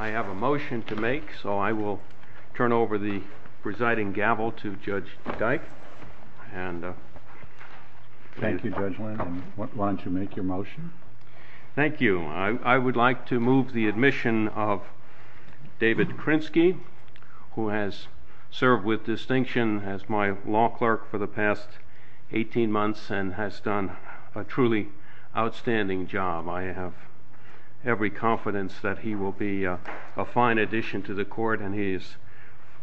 I have a motion to make, so I will turn over the presiding gavel to Judge Dyke. Thank you, Judge Linden. Why don't you make your motion? Thank you. I would like to move the admission of David Krinsky, who has served with distinction as my law clerk for the past 18 months and has done a truly outstanding job. I have every fine addition to the Court, and he is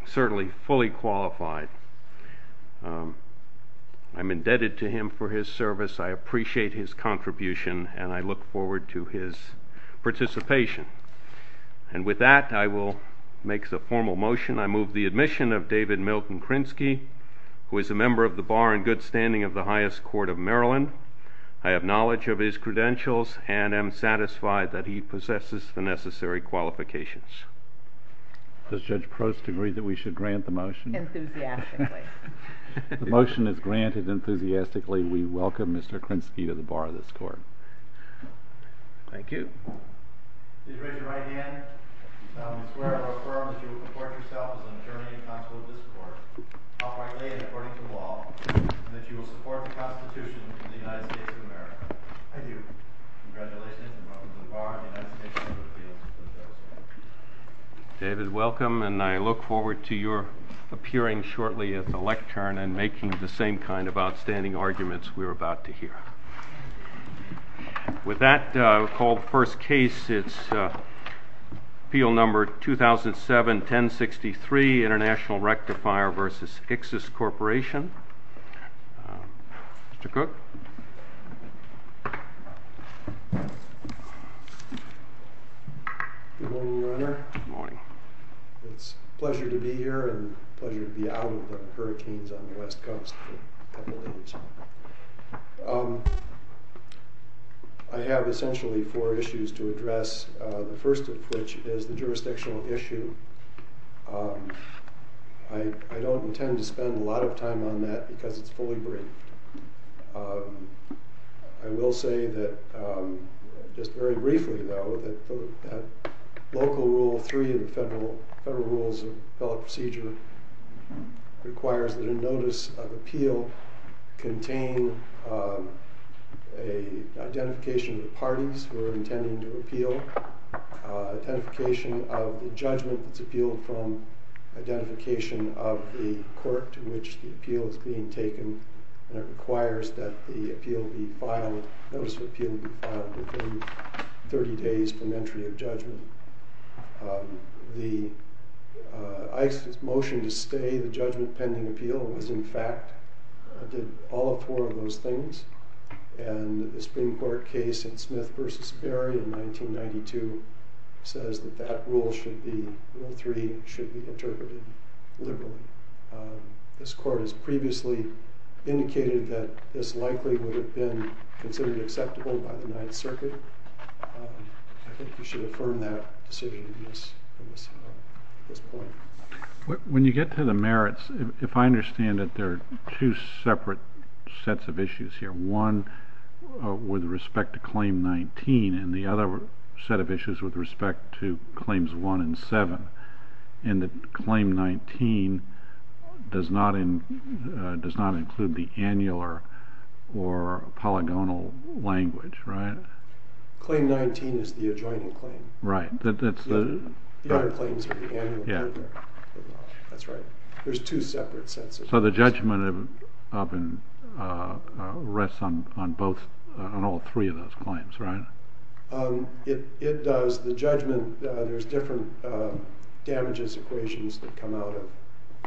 certainly fully qualified. I am indebted to him for his service. I appreciate his contribution, and I look forward to his participation. And with that, I will make the formal motion. I move the admission of David Milton Krinsky, who is a member of the Bar and Good Standing of the Highest Court of Maryland. I have knowledge of his credentials and am satisfied that he possesses the necessary qualifications. Does Judge Prost agree that we should grant the motion? Enthusiastically. The motion is granted enthusiastically. We welcome Mr. Krinsky to the Bar of this Court. Thank you. David, welcome, and I look forward to your appearing shortly at the lectern and making the same kind of outstanding arguments we are about to hear. With that, I will call the first case. It is Appeal No. 2007-1063, International Rectifier v. Ixis Corporation. Mr. Cook? Good morning, Your Honor. It is a pleasure to be here and a pleasure to be out of the courtroom. I have essentially four issues to address, the first of which is the jurisdictional issue. I don't intend to spend a lot of time on that because it's fully brief. I will say that, just very briefly, though, that Local Rule 3 of the Federal Rules of Appellate Procedure requires that a notice of appeal contain an identification of the parties who are intending to appeal, identification of the judgment that's appealed from, identification of the court to which the appeal is being taken, and it requires that the appeal be filed, notice of appeal be filed within 30 days from entry of judgment. Ixis' motion to stay the judgment pending appeal was, in fact, did all four of those things, and the Supreme Court case in Smith v. Sperry in 1992 says that Rule 3 should be interpreted liberally. This Court has previously indicated that this likely would have been considered acceptable by the Ninth Circuit. I think you should affirm that decision in this point. When you get to the merits, if I understand it, there are two separate sets of issues here, one with respect to Claim 19 and the other set of issues with respect to Claims 1 and 7, and that Claim 19 does not include the annular or polygonal language, right? Claim 19 is the adjoining claim. Right. The other claims are the annular. Yeah. That's right. There's two separate sets of issues. So the judgment rests on all three of those claims, right? It does. The judgment, there's different damages, equations that come out of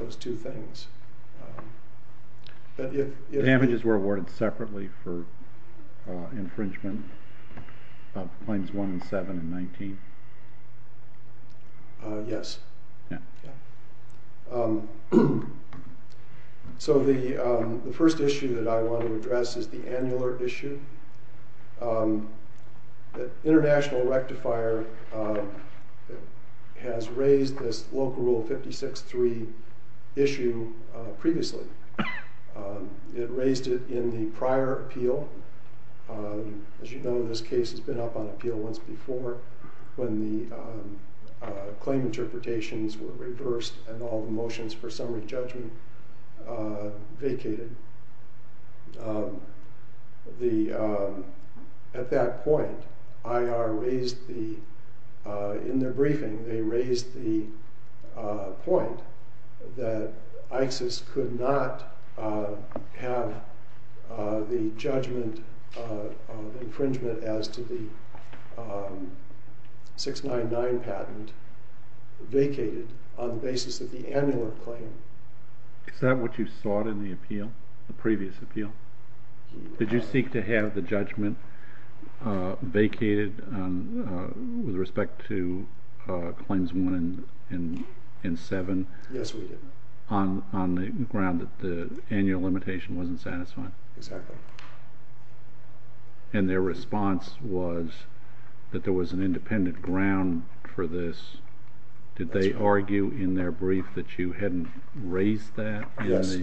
those two things. Damages were awarded separately for infringement of Claims 1 and 7 and 19? Yes. So the first issue that I want to address is the annular issue. The International Rectifier has raised this Local Rule 56-3 issue previously. It raised it in the prior appeal. As you know, this case has been up on appeal once before when the claim interpretations were reversed and all the motions for summary judgment vacated. At that point, IR raised, in their briefing, they raised the point that ISIS could not have the judgment of infringement as to the 699 patent vacated on the basis of the annular claim. Is that what you sought in the appeal, the previous appeal? Did you seek to have the judgment vacated with respect to Claims 1 and 7? Yes, we did. On the ground that the annual limitation wasn't satisfying? Exactly. And their response was that there was an independent ground for this. Did they argue in their brief that you hadn't raised that? Yes.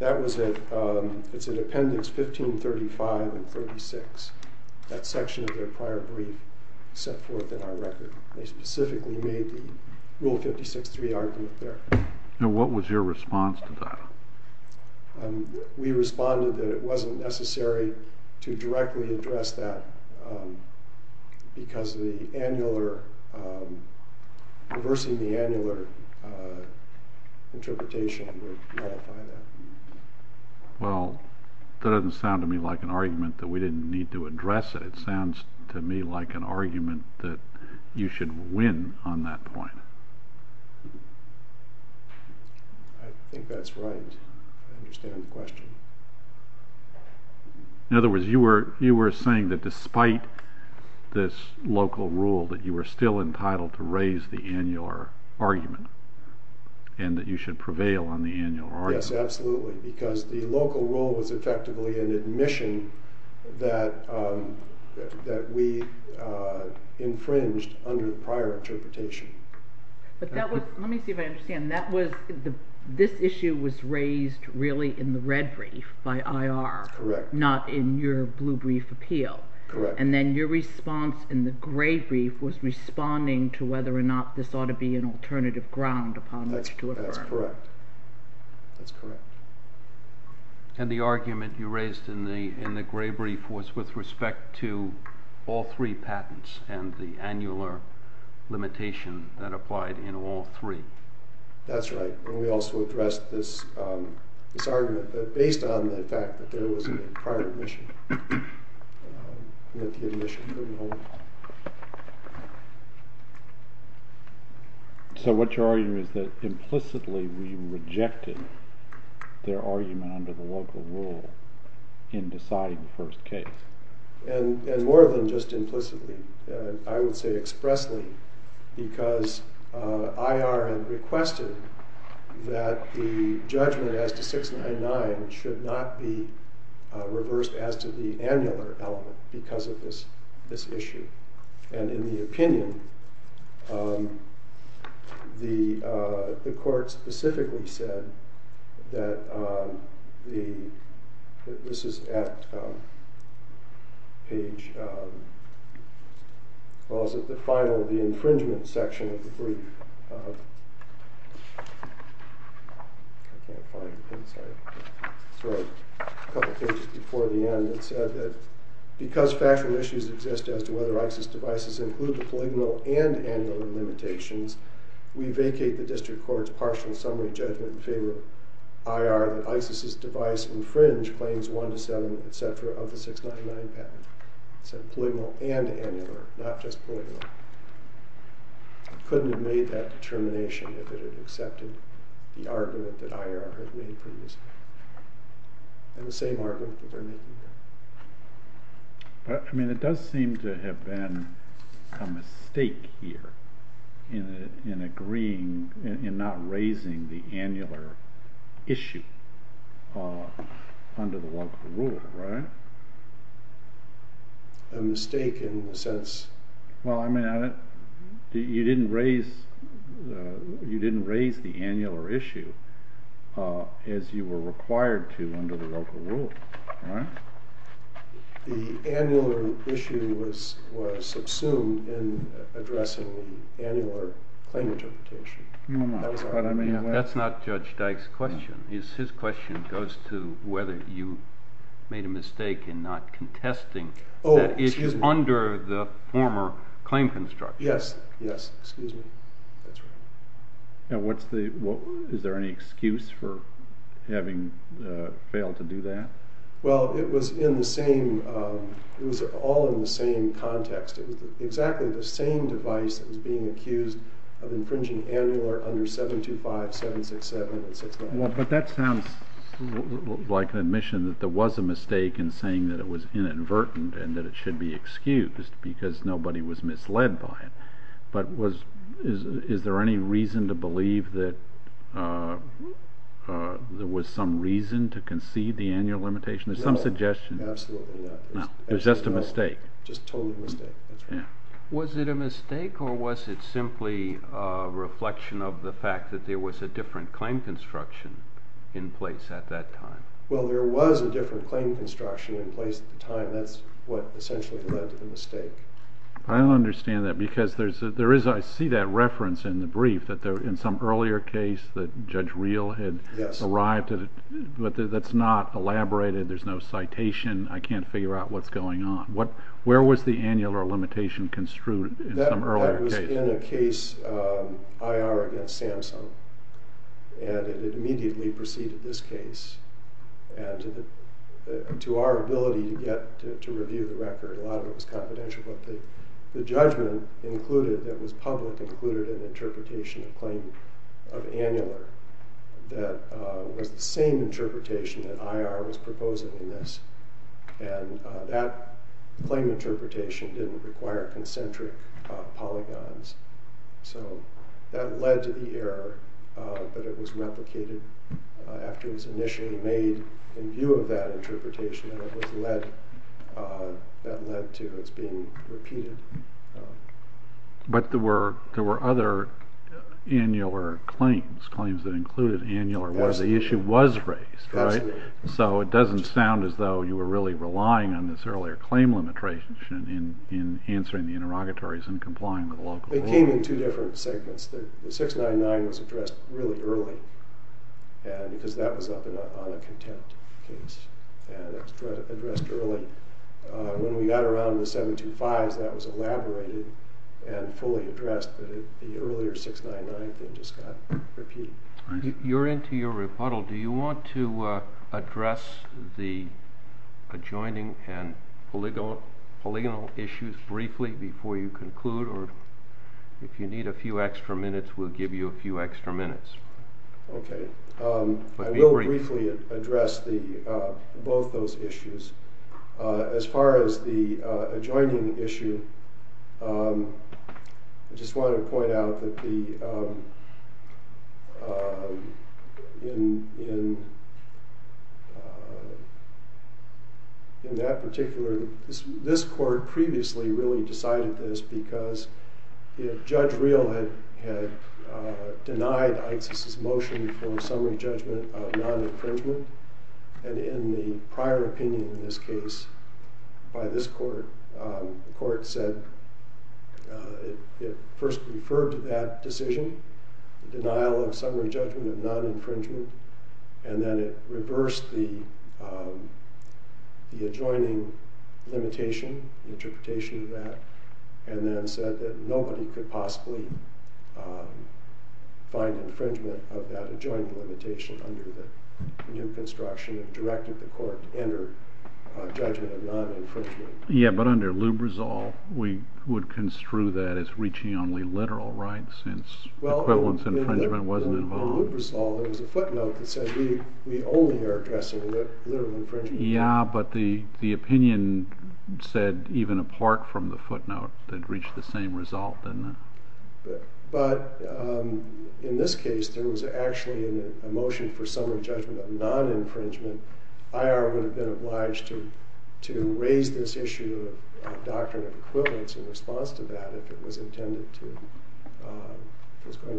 It's in Appendix 1535 and 36. That section of their prior brief set forth in our record. They specifically made the Rule 56-3 argument there. What was your response to that? We responded that it wasn't necessary to directly address that because reversing the annular interpretation would nullify that. Well, that doesn't sound to me like an argument that we didn't need to address it. It sounds to me like an argument that you should win on that point. I think that's right. I understand the question. In other words, you were saying that despite this local rule, that you were still entitled to raise the annular argument and that you should prevail on the annular argument. Yes, absolutely. Because the local rule was effectively an admission that we infringed under the prior interpretation. Let me see if I understand. This issue was raised really in the red brief by IR, not in your blue brief appeal. Correct. And then your response in the gray brief was responding to whether or not this ought to be an alternative ground upon which to affirm. That's correct. And the argument you raised in the gray brief was with respect to all three patents and the annular limitation that applied in all three. That's right. And we also addressed this argument based on the fact that there was a prior admission. With the admission removed. So what you're arguing is that implicitly we rejected their argument under the local rule in deciding the first case. And more than just implicitly, I would say expressly, because IR had requested that the judgment as to 699 should not be reversed as to the annular element because of this issue. And in the opinion, the court specifically said that the... This is at page... Well, it's at the final, the infringement section of the brief. I can't find it. Sorry. It's right a couple pages before the end. It said that because factual issues exist as to whether ISIS devices include the polygonal and annular limitations, we vacate the district court's partial summary judgment in favor of IR that ISIS's device infringed claims 1 to 7, et cetera, of the 699 patent. It said polygonal and annular, not just polygonal. Couldn't have made that determination if it had accepted the argument that IR had made previously. And the same argument that they're making here. But, I mean, it does seem to have been a mistake here in agreeing, in not raising the annular issue under the local rule, right? A mistake in the sense... Well, I mean, you didn't raise the annular issue as you were required to under the local rule, right? The annular issue was subsumed in addressing the annular claim interpretation. That's not Judge Dyke's question. His question goes to whether you made a mistake in not contesting that issue under the former claim construction. Yes, yes, excuse me. That's right. Now, what's the... Is there any excuse for having failed to do that? Well, it was in the same... It was all in the same context. It was exactly the same device that was being accused of infringing annular under 725, 767, and 699. But that sounds like an admission that there was a mistake in saying that it was inadvertent and that it should be excused because nobody was misled by it. But was... Is there any reason to believe that there was some reason to concede the annular limitation? There's some suggestion. No, absolutely not. No, it was just a mistake. Just a total mistake, that's right. Was it a mistake, or was it simply a reflection of the fact that there was a different claim construction in place at that time? Well, there was a different claim construction in place at the time. That's what essentially led to the mistake. I don't understand that, because there is... I see that reference in the brief that in some earlier case that Judge Reel had arrived at it, but that's not elaborated. There's no citation. I can't figure out what's going on. Where was the annular limitation construed in some earlier case? That was in a case, IR against Samsung, and it immediately preceded this case. And to our ability to get... to review the record, a lot of it was confidential, but the judgment included, that was public, included an interpretation of claim of annular that was the same interpretation that IR was proposing in this. And that claim interpretation didn't require concentric polygons. So that led to the error, but it was replicated after it was initially made in view of that interpretation, and it was led... that led to its being repeated. But there were other annular claims, claims that included annular, where the issue was raised, right? So it doesn't sound as though you were really relying on this earlier claim limitation in answering the interrogatories and complying with local law. It came in two different segments. The 699 was addressed really early, because that was up on a contempt case, and it was addressed early. When we got around to the 725s, that was elaborated and fully addressed, but the earlier 699 thing just got repeated. You're into your rebuttal. Do you want to address the adjoining and polygonal issues briefly before you conclude, or if you need a few extra minutes, we'll give you a few extra minutes. Okay, I will briefly address both those issues. As far as the adjoining issue, I just want to point out that the... in that particular... this court previously really decided this, because Judge Real had denied Isis's motion for summary judgment of non-infringement, and in the prior opinion in this case by this court, the court said it first referred to that decision, the denial of summary judgment of non-infringement, and then it reversed the adjoining limitation, the interpretation of that, and then said that nobody could possibly find infringement of that adjoining limitation under the new construction of directing the court to enter judgment of non-infringement. Yeah, but under Lubrizol we would construe that as reaching only literal rights, since equivalence infringement wasn't involved. Well, in Lubrizol there was a footnote that said we only are addressing literal infringement. Yeah, but the opinion said even apart from the footnote that it reached the same result. But in this case there was actually a motion for summary judgment of non-infringement. IR would have been obliged to raise this issue of doctrine of equivalence in response to that if it was going to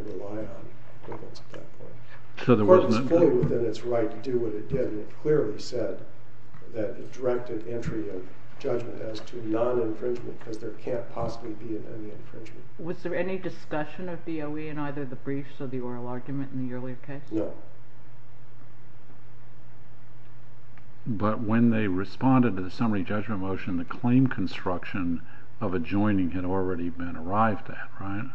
rely on equivalence at that point. The court was fully within its right to do what it did, and it clearly said that it directed entry of judgment as to non-infringement because there can't possibly be any infringement. Was there any discussion of DOE in either the briefs or the oral argument in the earlier case? No. But when they responded to the summary judgment motion, the claim construction of adjoining had already been arrived at, right?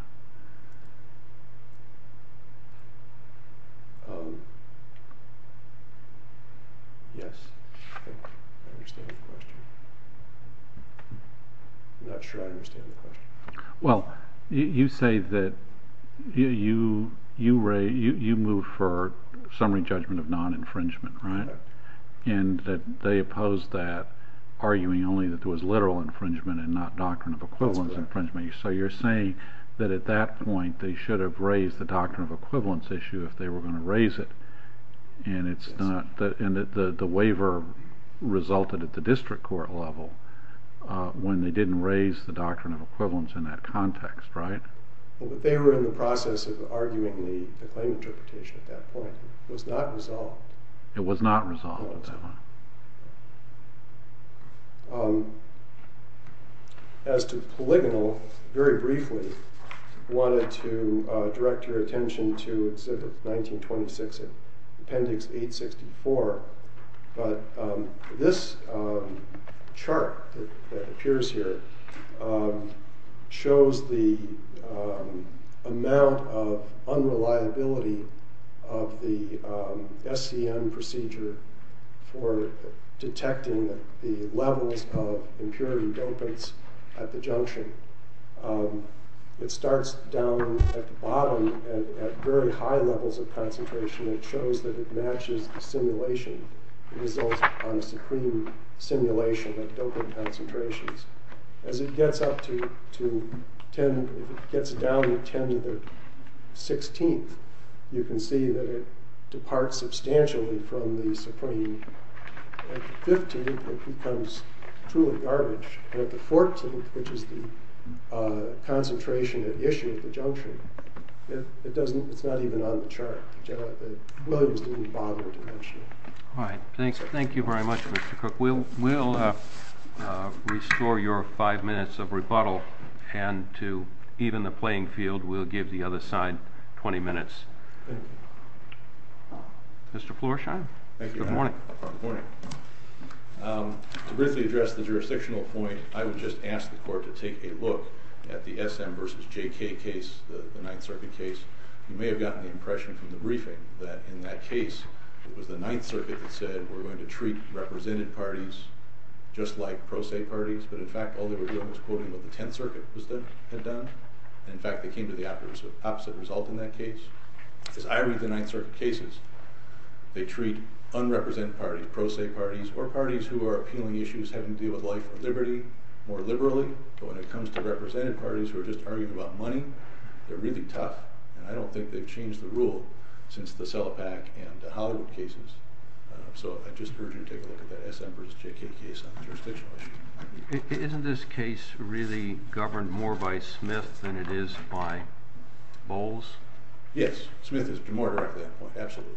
Yes. I'm not sure I understand the question. Well, you say that you moved for summary judgment of non-infringement, right? And that they opposed that arguing only that there was literal infringement and not doctrine of equivalence infringement. So you're saying that at that point they should have raised the doctrine of equivalence issue if they were going to raise it. And the waiver resulted at the district court level when they didn't raise the doctrine of equivalence in that context, right? They were in the process of arguing the claim interpretation at that point. It was not resolved. As to polygonal, very briefly I wanted to direct your attention to 1926 appendix 864 but this chart that appears here shows the amount of unreliability of the SCM procedure for detecting the levels of impurity dopants at the it starts down at the bottom at very high levels of concentration. It shows that it matches the simulation on the supreme simulation of dopant concentrations. As it gets up to 10, gets down to 10 to the 16th you can see that it departs substantially from the supreme. At the 15th it becomes truly garbage. At the 14th which is the concentration at issue at the junction it doesn't, it's not even on the chart. Williams didn't bother to mention it. Thank you very much Mr. Cook. We'll restore your five minutes of rebuttal and to even the playing field we'll give the other side 20 minutes. Mr. Florsheim. Good morning. To briefly address the to take a look at the SM versus JK case, the 9th circuit case. You may have gotten the impression from the briefing that in that case it was the 9th circuit that said we're going to treat represented parties just like pro se parties but in fact all they were doing was quoting what the 10th circuit had done. In fact they came to the opposite result in that case. As I read the 9th circuit cases they treat unrepresented parties, pro se parties or parties who are appealing issues having to deal with life or liberty more liberally but when it comes to represented parties who are just arguing about money, they're really tough and I don't think they've changed the rule since the CELIPAC and the Hollywood cases. So I just urge you to take a look at that SM versus JK case on the jurisdictional issue. Isn't this case really governed more by Smith than it is by Bowles? Yes. Smith is more direct at that point. Absolutely.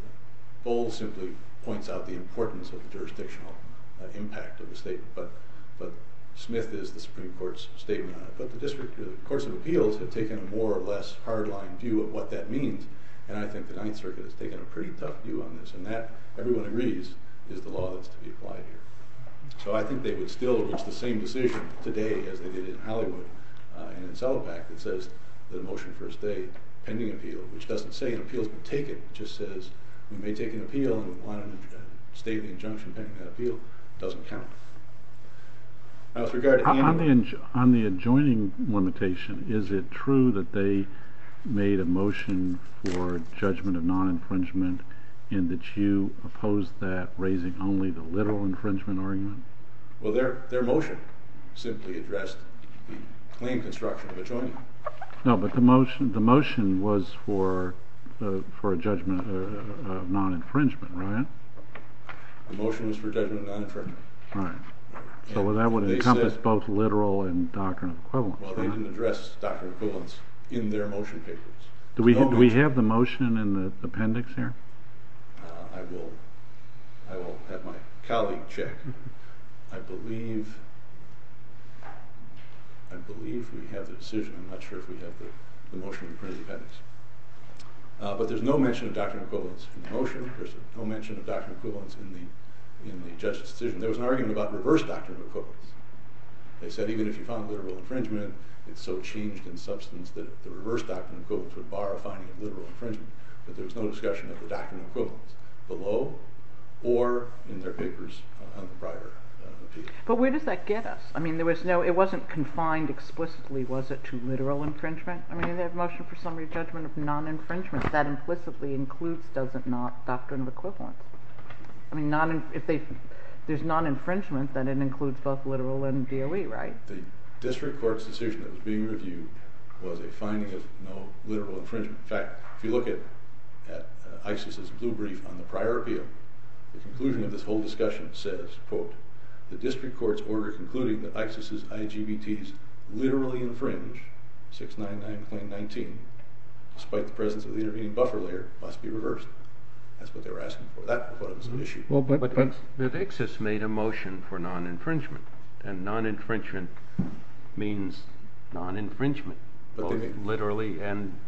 Bowles simply points out the importance of the jurisdictional impact of the statement but Smith is the Supreme Court's statement on it. But the district, the courts of appeals have taken a more or less hard line view of what that means and I think the 9th circuit has taken a pretty tough view on this and that, everyone agrees, is the law that's to be applied here. So I think they would still reach the same decision today as they did in Hollywood and in CELIPAC that says the motion for a state pending appeal which doesn't say an appeal's been taken, it just says we may take an appeal and we want to state the injunction pending that appeal doesn't count. On the adjoining limitation, is it true that they made a motion for judgment of non-infringement in that you opposed that raising only the literal infringement argument? Well, their motion simply addressed the claim construction of adjoining. No, but the motion was for a judgment of non-infringement, right? The motion was for judgment of non-infringement. So that would encompass both literal and doctrine of equivalence. They didn't address doctrine of equivalence in their motion papers. Do we have the motion in the appendix here? I will have my colleague check. I believe we have the decision, I'm not sure if we have the motion in the appendix. But there's no mention of doctrine of equivalence in the motion. There's no mention of doctrine of equivalence in the judge's decision. There was an argument about reverse doctrine of equivalence. They said even if you found literal infringement it's so changed in substance that the reverse doctrine of equivalence would bar a finding of literal infringement. But there's no discussion of the doctrine of equivalence below or in their papers on the prior appeal. But where does that get us? I mean, it wasn't confined explicitly, was it, to the judgment of non-infringement that implicitly includes, does it not, doctrine of equivalence? I mean, if there's non-infringement then it includes both literal and DOE, right? The district court's decision that was being reviewed was a finding of no literal infringement. In fact, if you look at ISIS's blue brief on the prior appeal, the conclusion of this whole discussion says quote, the district court's order concluding that ISIS's IGBTs literally infringe 699.19 despite the presence of the intervening buffer layer must be reversed. That's what they were asking for. That was the issue. But ISIS made a motion for non-infringement and non-infringement means non-infringement, both literally and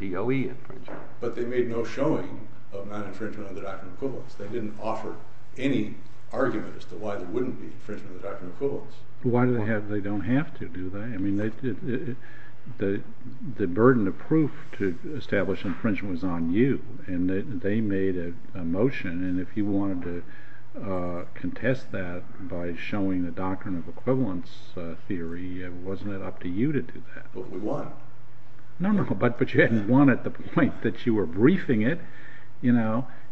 DOE infringement. But they made no showing of non-infringement of the doctrine of equivalence. They didn't offer any argument as to why there wouldn't be infringement of the doctrine of equivalence. Why do they have, they don't have to, do they? The burden of proof to establish infringement was on you and they made a motion and if you wanted to contest that by showing the doctrine of equivalence theory, wasn't it up to you to do that? But we won. No, no, but you had won at the point that you were briefing it.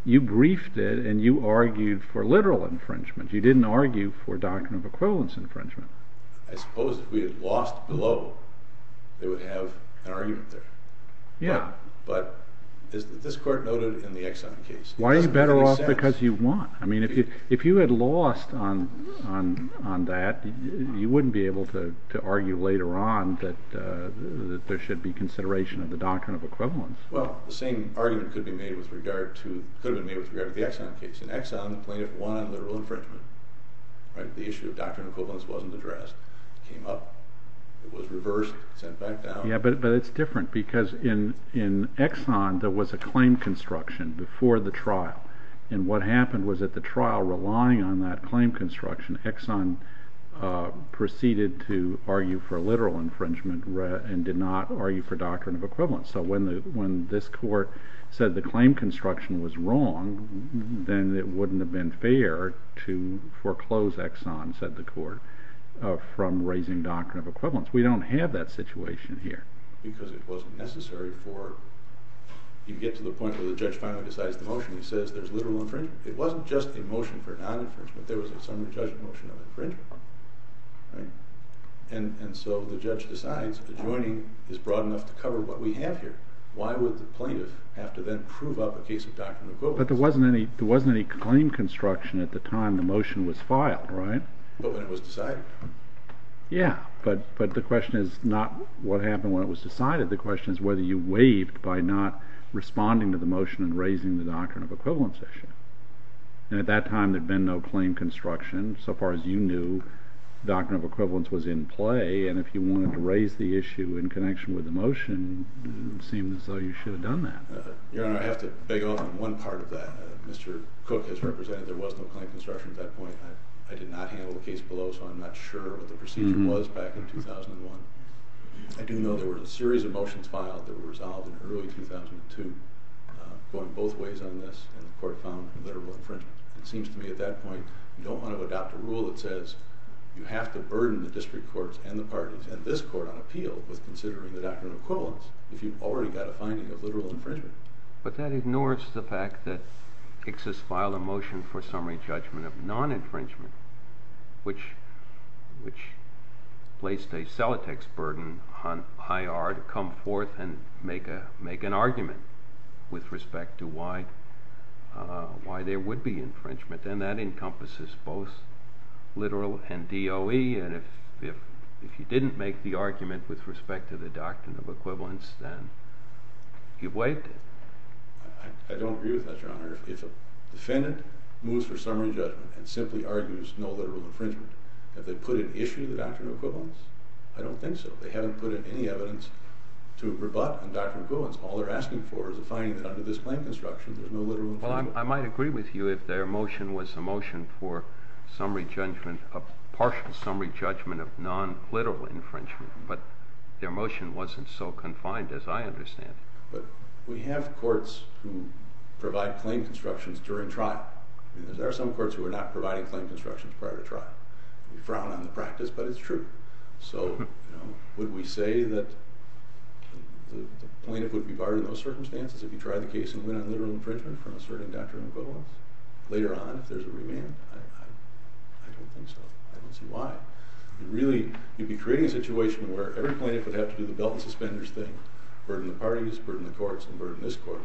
You briefed it and you argued for literal infringement. You didn't argue for doctrine of equivalence because if we had lost below they would have an argument there. Yeah. But this court noted in the Exxon case Why are you better off because you won? I mean, if you had lost on that you wouldn't be able to argue later on that there should be consideration of the doctrine of equivalence. Well, the same argument could have been made with regard to the Exxon case. In Exxon, plaintiff won on literal infringement. The issue of doctrine of equivalence wasn't addressed. It came up. It was reversed. It was sent back down. Yeah, but it's different because in Exxon there was a claim construction before the trial and what happened was that the trial relying on that claim construction Exxon proceeded to argue for literal infringement and did not argue for doctrine of equivalence. So when this court said the claim construction was wrong then it wouldn't have been fair to foreclose Exxon said the court from raising doctrine of equivalence. We don't have that situation here. Because it wasn't necessary for you get to the point where the judge finally decides the motion and says there's literal infringement. It wasn't just a motion for non-infringement. There was a motion of infringement and so the judge decides adjoining is broad enough to cover what we have here. Why would the plaintiff have to then prove up a case of doctrine of equivalence? But there wasn't any claim construction at the time the motion was filed, right? But when it was decided? Yeah. But the question is not what happened when it was decided. The question is whether you waived by not responding to the motion and raising the doctrine of equivalence issue. And at that time there had been no claim construction. So far as you knew, doctrine of equivalence was in play and if you wanted to raise the issue in connection with the motion it seemed as though you should have done that. Your Honor, I have to beg off on one part of that. Mr. Cook has represented there was no claim construction at that point. I did not handle the case below so I'm not sure what the procedure was back in 2001. I do know there were a series of motions filed that were resolved in early 2002 going both ways on this and the court found literal infringement. It seems to me at that point you don't want to adopt a rule that says you have to burden the district courts and the parties and this court on appeal with considering the doctrine of equivalence if you've already got a finding of literal infringement. But that ignores the fact that ICSIS filed a motion for summary judgment of non-infringement which placed a cellotex burden on IR to come forth and make an argument with respect to why there would be infringement and that encompasses both literal and DOE and if you didn't make the argument with respect to the doctrine of equivalence then you've waived it. I don't agree with that your honor. If a defendant moves for summary judgment and simply argues no literal infringement, have they put an issue to the doctrine of equivalence? I don't think so. They haven't put in any evidence to rebut the doctrine of equivalence. All they're asking for is a finding that under this plain construction there's no literal infringement. Well I might agree with you if their motion was a motion for summary judgment of partial summary judgment of non-literal infringement but their motion wasn't so confined as I understand it. We have courts who provide plain constructions during trial and there are some courts who are not providing plain constructions prior to trial. We frown on the practice but it's true. Would we say that the plaintiff would be barred in those circumstances if he tried the case and went on literal infringement from asserting doctrine of equivalence? Later on if there's a remand? I don't think so. I don't see why. You'd be creating a situation where every plaintiff would have to do the belt and suspenders thing. Burden the parties, burden the courts, and burden this court.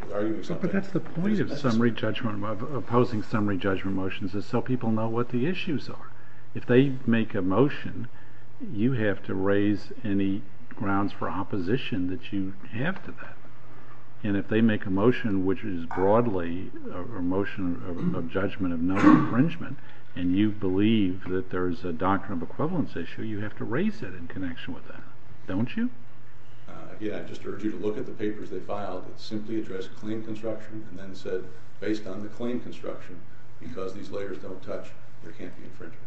But that's the point of summary judgment of opposing summary judgment motions is so people know what the issues are. If they make a motion you have to raise any grounds for opposition that you have to that. And if they make a motion which is broadly a motion of judgment of non-infringement and you believe that there's a doctrine of equivalence issue, you have to raise it in connection with that. Don't you? Yeah, I just urge you to look at the papers they filed. It simply addressed plain construction and then said based on the plain construction, because these layers don't touch, there can't be infringement.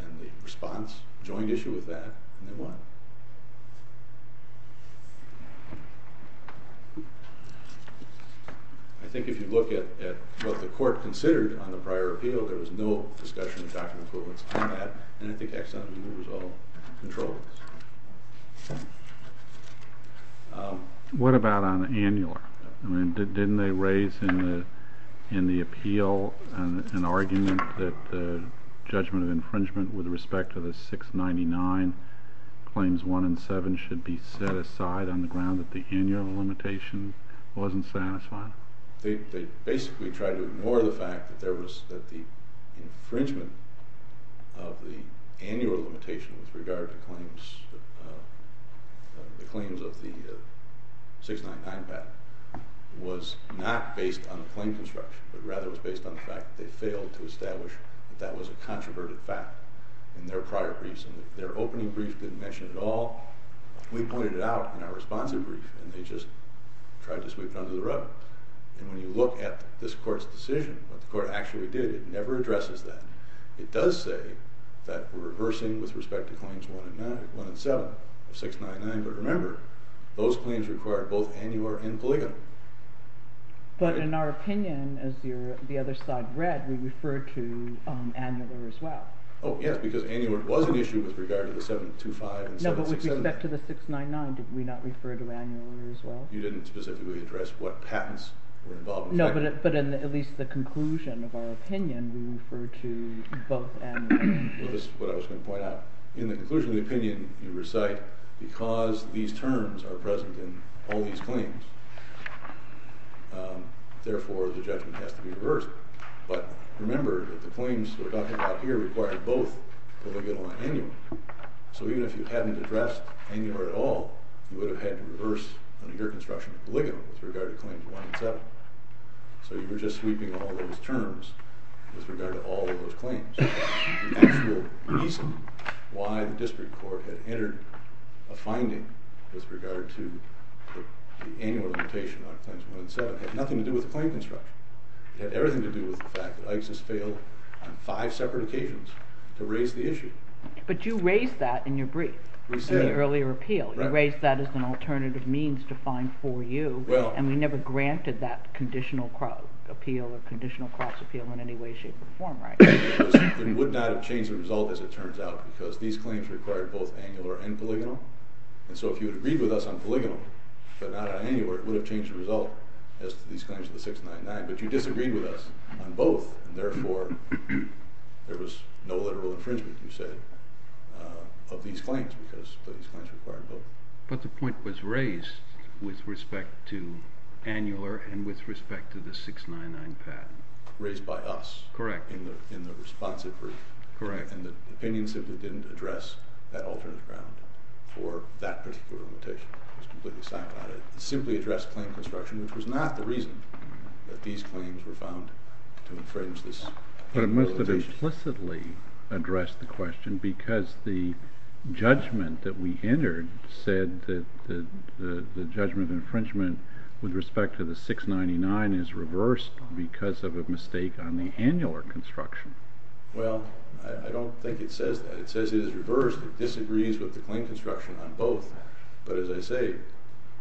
And the response joined issue with that and they won. I think if you look at what the court considered on the prior appeal, there was no discussion of doctrine of equivalence on that and I think Ex on the move was all controlled. What about on the annual? Didn't they raise in the appeal an argument that the judgment of infringement with respect to the 699 claims 1 and 7 should be set aside on the ground that the annual limitation wasn't satisfying? They basically tried to ignore the fact that there was infringement of the annual limitation with regard to claims of the 699 patent was not based on plain construction but rather was based on the fact that they failed to establish that that was a controverted fact in their prior briefs and their opening brief didn't mention it at all. We pointed it out in our responsive brief and they just tried to sweep it under the rug and when you look at this court's decision, what the court actually did, it never addresses that. It does say that we're reversing with respect to claims 1 and 7 of 699 but remember those claims required both annular and polygonal. But in our opinion, as the other side read, we referred to annular as well. Oh yes, because annular was an issue with regard to the 725 and 767. No, but with respect to the 699 did we not refer to annular as well? You didn't specifically address what patents were involved. No, but in at least the conclusion of our opinion we referred to both annular and Well, this is what I was going to point out. In the conclusion of the opinion you recite because these terms are present in all these claims therefore the judgment has to be reversed but remember that the claims we're talking about here require both polygonal and annular. So even if you had annular at all, you would have had to reverse under your construction polygonal with regard to claims 1 and 7. So you were just sweeping all those terms with regard to all of those claims. The actual reason why the district court had entered a finding with regard to the annular limitation on claims 1 and 7 had nothing to do with the claim construction. It had everything to do with the fact that Iksis failed on five separate occasions to raise the issue. But you raised that in your brief, in the earlier appeal. You raised that as an alternative means to find 4U, and we never granted that conditional appeal or conditional cross appeal in any way shape or form, right? It would not have changed the result as it turns out because these claims required both annular and polygonal, and so if you had agreed with us on polygonal, but not on annular it would have changed the result as to these claims of the 699, but you disagreed with us on both, and therefore there was no literal infringement as you said, of these claims because these claims required both. But the point was raised with respect to annular and with respect to the 699 patent. Raised by us. Correct. In the responsive brief. Correct. And the opinion simply didn't address that alternate ground for that particular limitation. It was completely silent about it. It simply addressed claim construction, which was not the reason that these claims were found to infringe this implementation. But it must have implicitly addressed the question because the judgment that we entered said that the judgment infringement with respect to the 699 is reversed because of a mistake on the annular construction. Well, I don't think it says that. It says it is reversed. It disagrees with the claim construction on both. But as I say...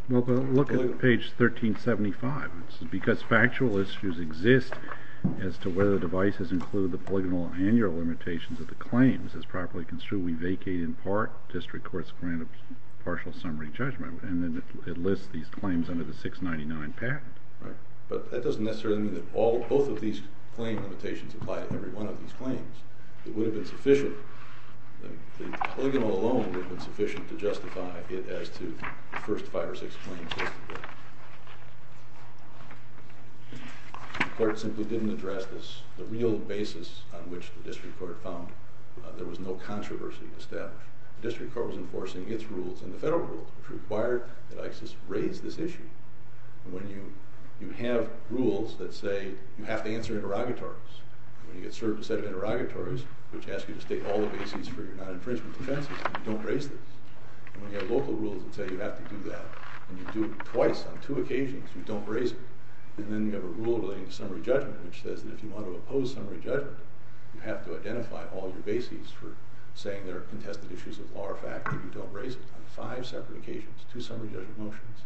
Look at page 1375. Because factual issues exist as to whether the device has included the polygonal and annular limitations of the claims as properly construed, we vacate in part, district courts grant a partial summary judgment. And then it lists these claims under the 699 patent. Right. But that doesn't necessarily mean that both of these claim limitations apply to every one of these claims. It would have been sufficient. The polygonal alone would have been sufficient to justify it as to the first five or six claims. The court simply didn't address this. The real basis on which the district court found there was no controversy established. The district court was enforcing its rules and the federal rules, which required that ICES raise this issue. When you have rules that say you have to answer interrogatories, when you get served a set of interrogatories which ask you to state all the bases for your non-infringement defenses, you don't raise this. When you have local rules that say you have to do that and you do it twice on two occasions you don't raise it. And then you have a rule relating to summary judgment which says that if you want to oppose summary judgment, you have to identify all your bases for saying there are contested issues of law or fact and you don't raise it on five separate occasions. Two summary judgment motions,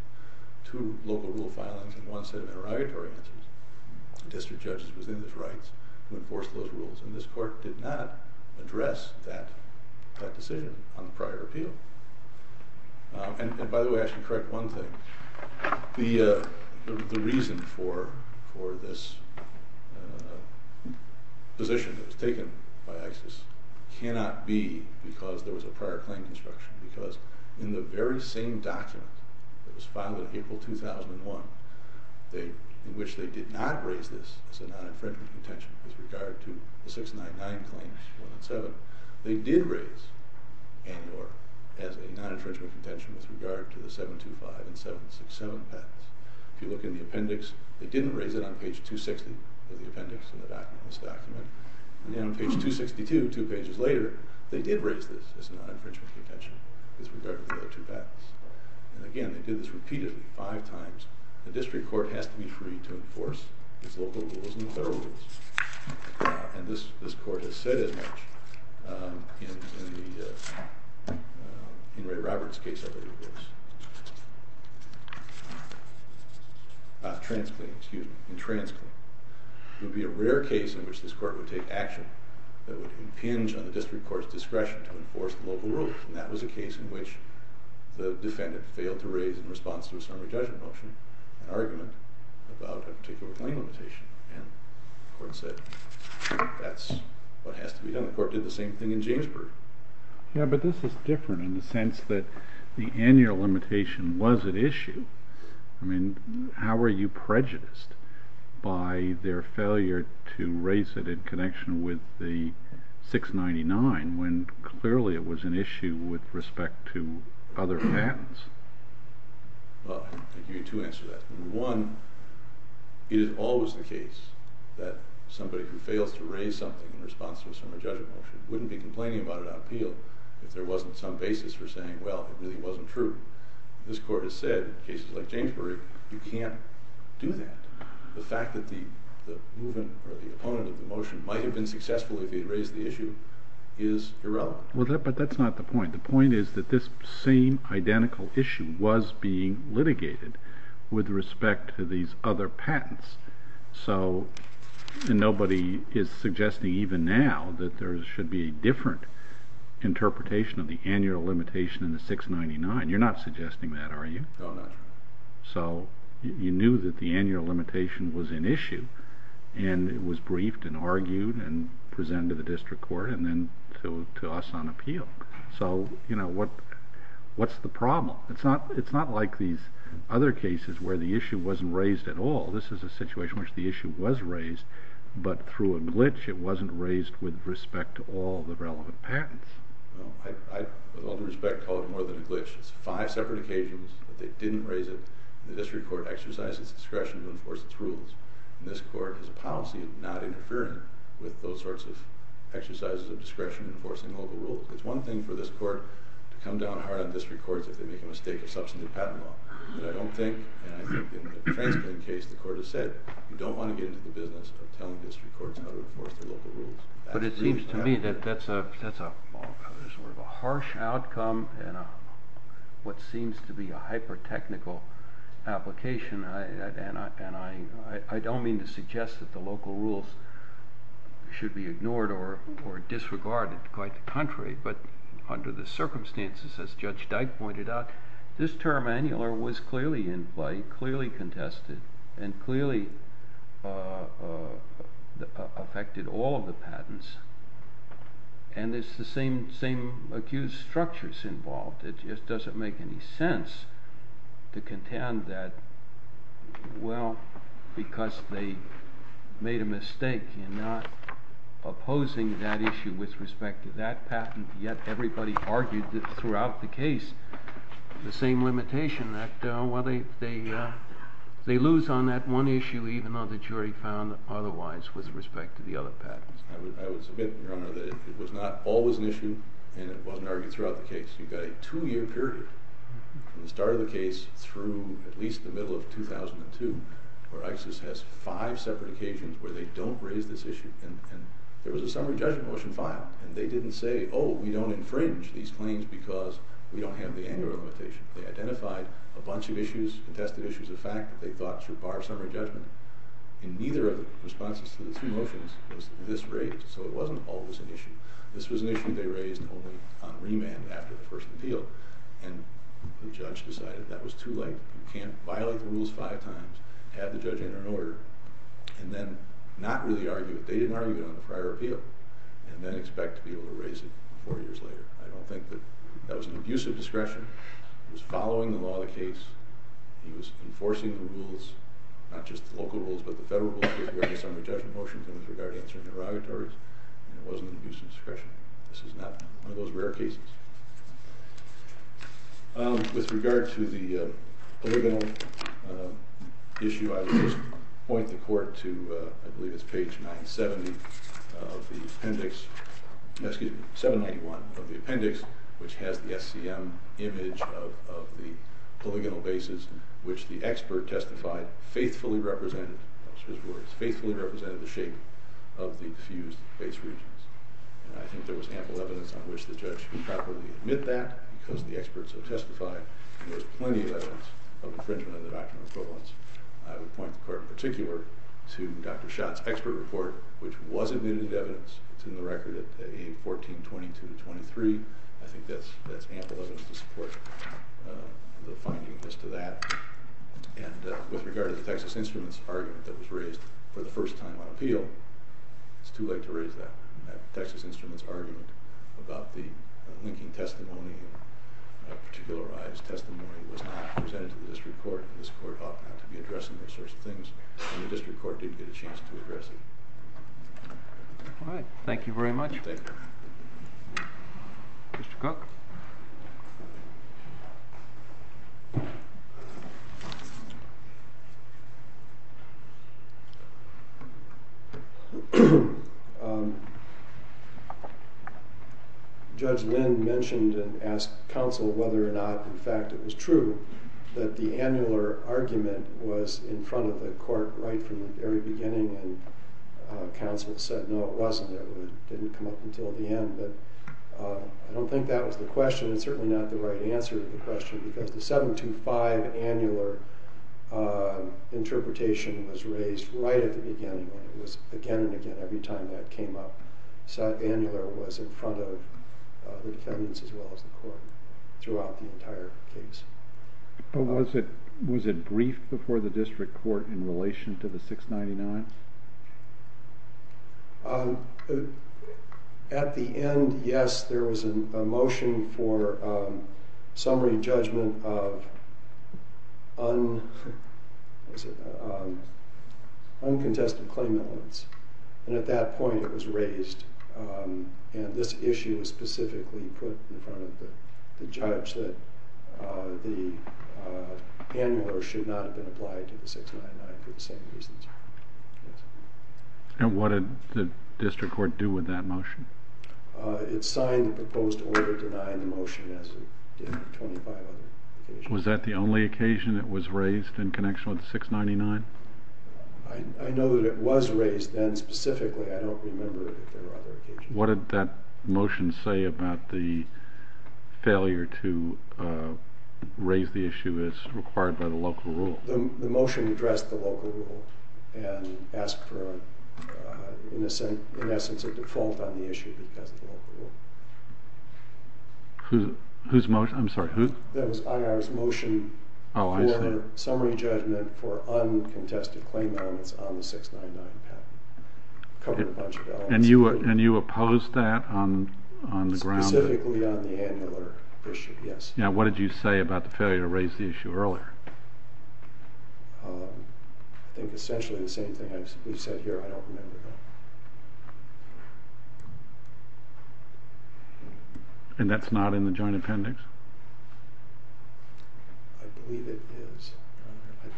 two local rule filings, and one set of interrogatory answers. The district judge was in his rights to enforce those rules and this court did not address that decision on the prior appeal. And by the way, I should correct one thing. The reason for this position that was taken by ICES cannot be because there was a prior claim construction because in the very same document that was filed in April 2001 in which they did not raise this as a non-infringement contention with regard to the 699 claims 1 and 7, they did raise it as a non-infringement contention with regard to the 725 and 767 patents. If you look in the appendix, they didn't raise it on page 260 of the appendix in this document. And then on page 262, two pages later, they did raise this as a non-infringement contention with regard to the other two patents. And again, they did this repeatedly five times. The district court has to be free to enforce its local rules and federal rules. And this court has said as much in Ray Roberts' case in TransClean. It would be a rare case in which this court would take action that would impinge on the district court's discretion to enforce the local rules. And that was a case in which the defendant failed to raise in response to a summary judgment motion an argument about a particular claim limitation. And the court said that's what has to be done. The court did the same thing in Jamesburg. Yeah, but this is different in the sense that the annual limitation was at issue. I mean, how are you prejudiced by their failure to raise it in connection with the 699 when clearly it was an issue with respect to other patents? Well, I think you need to answer that. One, it is always the case that somebody who fails to raise something in response to a summary judgment motion wouldn't be complaining about it on appeal if there wasn't some basis for saying, well, it really wasn't true. This court has said in cases like Jamesburg you can't do that. The fact that the opponent of the motion might have been successful if he had raised the issue is irrelevant. But that's not the point. The point is that this same identical issue was being litigated with respect to these other patents. So, nobody is suggesting even now that there should be a different interpretation of the annual limitation in the 699. You're not suggesting that, are you? No, I'm not. So, you knew that the annual limitation was an issue and it was briefed and argued and presented to the district court and then to us on appeal. So, you know, what's the problem? It's not like these other cases where the issue wasn't raised at all. This is a situation in which the issue was raised, but through a glitch it wasn't raised with respect to all the relevant patents. I, with all due respect, call it more than a glitch. It's five separate occasions that they didn't raise it and the district court exercised its discretion to enforce its rules and this court has a policy of not interfering with those sorts of exercises of discretion enforcing all the rules. It's one thing for this court to come down hard on district courts if they make a mistake of substantive patent law, but I don't think, and I think in the TransPen case the court has said, you don't want to get into the business of telling district courts how to enforce the local rules. But it seems to me that that's a harsh outcome and what seems to be a hyper-technical application and I don't mean to suggest that the local rules should be ignored or disregarded. Quite the contrary, but under the circumstances as Judge Dyke pointed out, this term, annular, was clearly in play, clearly contested, and clearly affected all of the patents and it's the same accused structures involved. It just doesn't make any sense to contend that well, because they made a mistake in not opposing that issue with respect to that patent yet everybody argued that throughout the case the same limitation that they lose on that one issue even though the jury found otherwise with respect to the other patents. I would submit, Your Honor, that it was not always an issue and it wasn't argued throughout the case. You've got a two-year period from the start of the case through at least the middle of 2002 where ISIS has five separate occasions where they don't raise this issue and there was a summary judgment motion filed and they didn't say, oh, we don't infringe these claims because we don't have the annular limitation. They identified a bunch of issues, contested issues of fact that they thought should bar summary judgment and neither of the responses to the two motions was this raised so it wasn't always an issue. This was an issue they raised only on remand after the first appeal and the judge decided that was too late you can't violate the rules five times have the judge enter an order and then not really argue it. They didn't argue it on the prior appeal and then expect to be able to raise it four years later. I don't think that that was an abuse of discretion. It was following the law of the case. He was enforcing the rules, not just the local rules, but the federal rules with regard to summary judgment motions and with regard to answering derogatories and it wasn't an abuse of discretion. This is not one of those rare cases. With regard to the polygonal issue, I would just point the court to I believe it's page 970 of the appendix excuse me, 791 of the appendix which has the SCM image of the polygonal bases which the expert testified faithfully represented faithfully represented the shape of the diffused base regions and I think there was ample evidence on which the judge could properly admit that because the experts have testified and there was plenty of evidence of infringement of the doctrine of equivalence I would point the court in particular to Dr. Schott's expert report which was admitted evidence it's in the record at page 1422-23 I think that's ample evidence to support the finding as to that and with regard to the Texas Instruments argument that was raised for the first time on appeal, it's too late to raise that Texas Instruments argument about the linking testimony and particularized testimony was not presented to the court for addressing those sorts of things and the district court did get a chance to address it Alright, thank you very much Thank you Mr. Cook Judge Lynn mentioned and asked counsel whether or not in fact it was true that the annular argument was in front of the court right from the very beginning and counsel said no it wasn't it didn't come up until the end but I don't think that was the question and certainly not the right answer to the question because the 725 annular interpretation was raised right at the beginning when it was again and again every time that came up annular was in front of defendants as well as the court throughout the entire case Was it briefed before the district court in relation to the 699? At the end yes there was a motion for summary judgment of uncontested claim and at that point it was raised and this issue was specifically put in front of the judge that the annular should not have been applied to the 699 for the same reasons And what did the district court do with that motion? It signed the proposed order denying the motion as it did on 25 other occasions Was that the only occasion it was raised in connection with the 699? I know that it was raised then specifically I don't remember if there were other occasions What did that motion say about the failure to raise the issue as required by the local rule? The motion addressed the local rule and asked for in essence a default on the issue because of the local rule Whose motion? I'm sorry That was IR's motion for summary judgment for uncontested claim elements on the 699 patent And you opposed that on the ground? Specifically on the annular issue, yes. Now what did you say about the failure to raise the issue earlier? I think essentially the same thing we've said here I don't remember And that's not in the joint appendix? I believe it is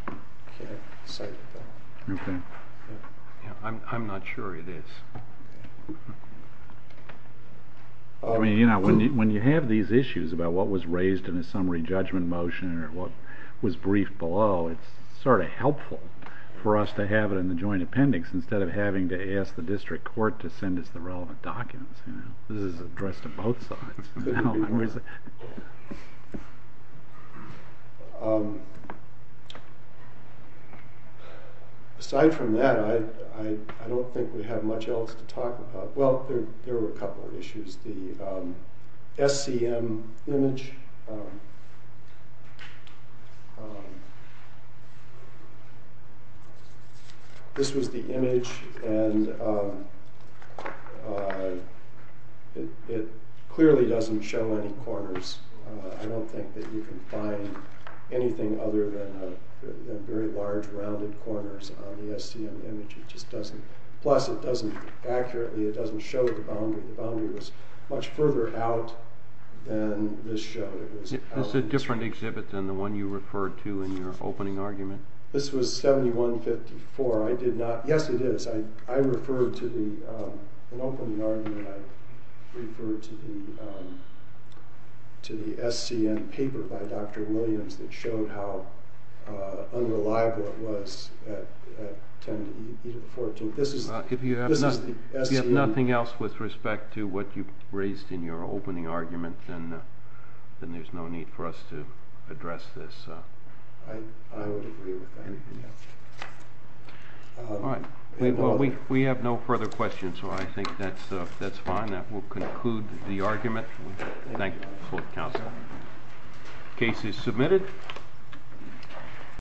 I can't cite it though I'm not sure it is When you have these issues about what was raised in a summary judgment motion or what was briefed below it's sort of helpful for us to have it in the joint appendix instead of having to ask the district court to send us the relevant documents This is addressed to both sides Aside from that I don't think we have much else to talk about Well, there were a couple of issues The SCM image This was the image It clearly doesn't show any corners I don't think that you can find anything other than very large rounded corners on the SCM image Plus it doesn't accurately it doesn't show the boundary The boundary was much further out than this showed This is a different exhibit than the one you referred to in your opening argument This was 7154 Yes it is I referred to the opening argument I referred to the SCM paper by Dr. Williams that showed how unreliable it was at 10-14 This is the SCM If you have nothing else with respect to what you raised in your opening argument then there's no need for us to address this I would agree with that We have no further questions so I think that's fine, that will conclude the argument Thank you, Counselor Case is submitted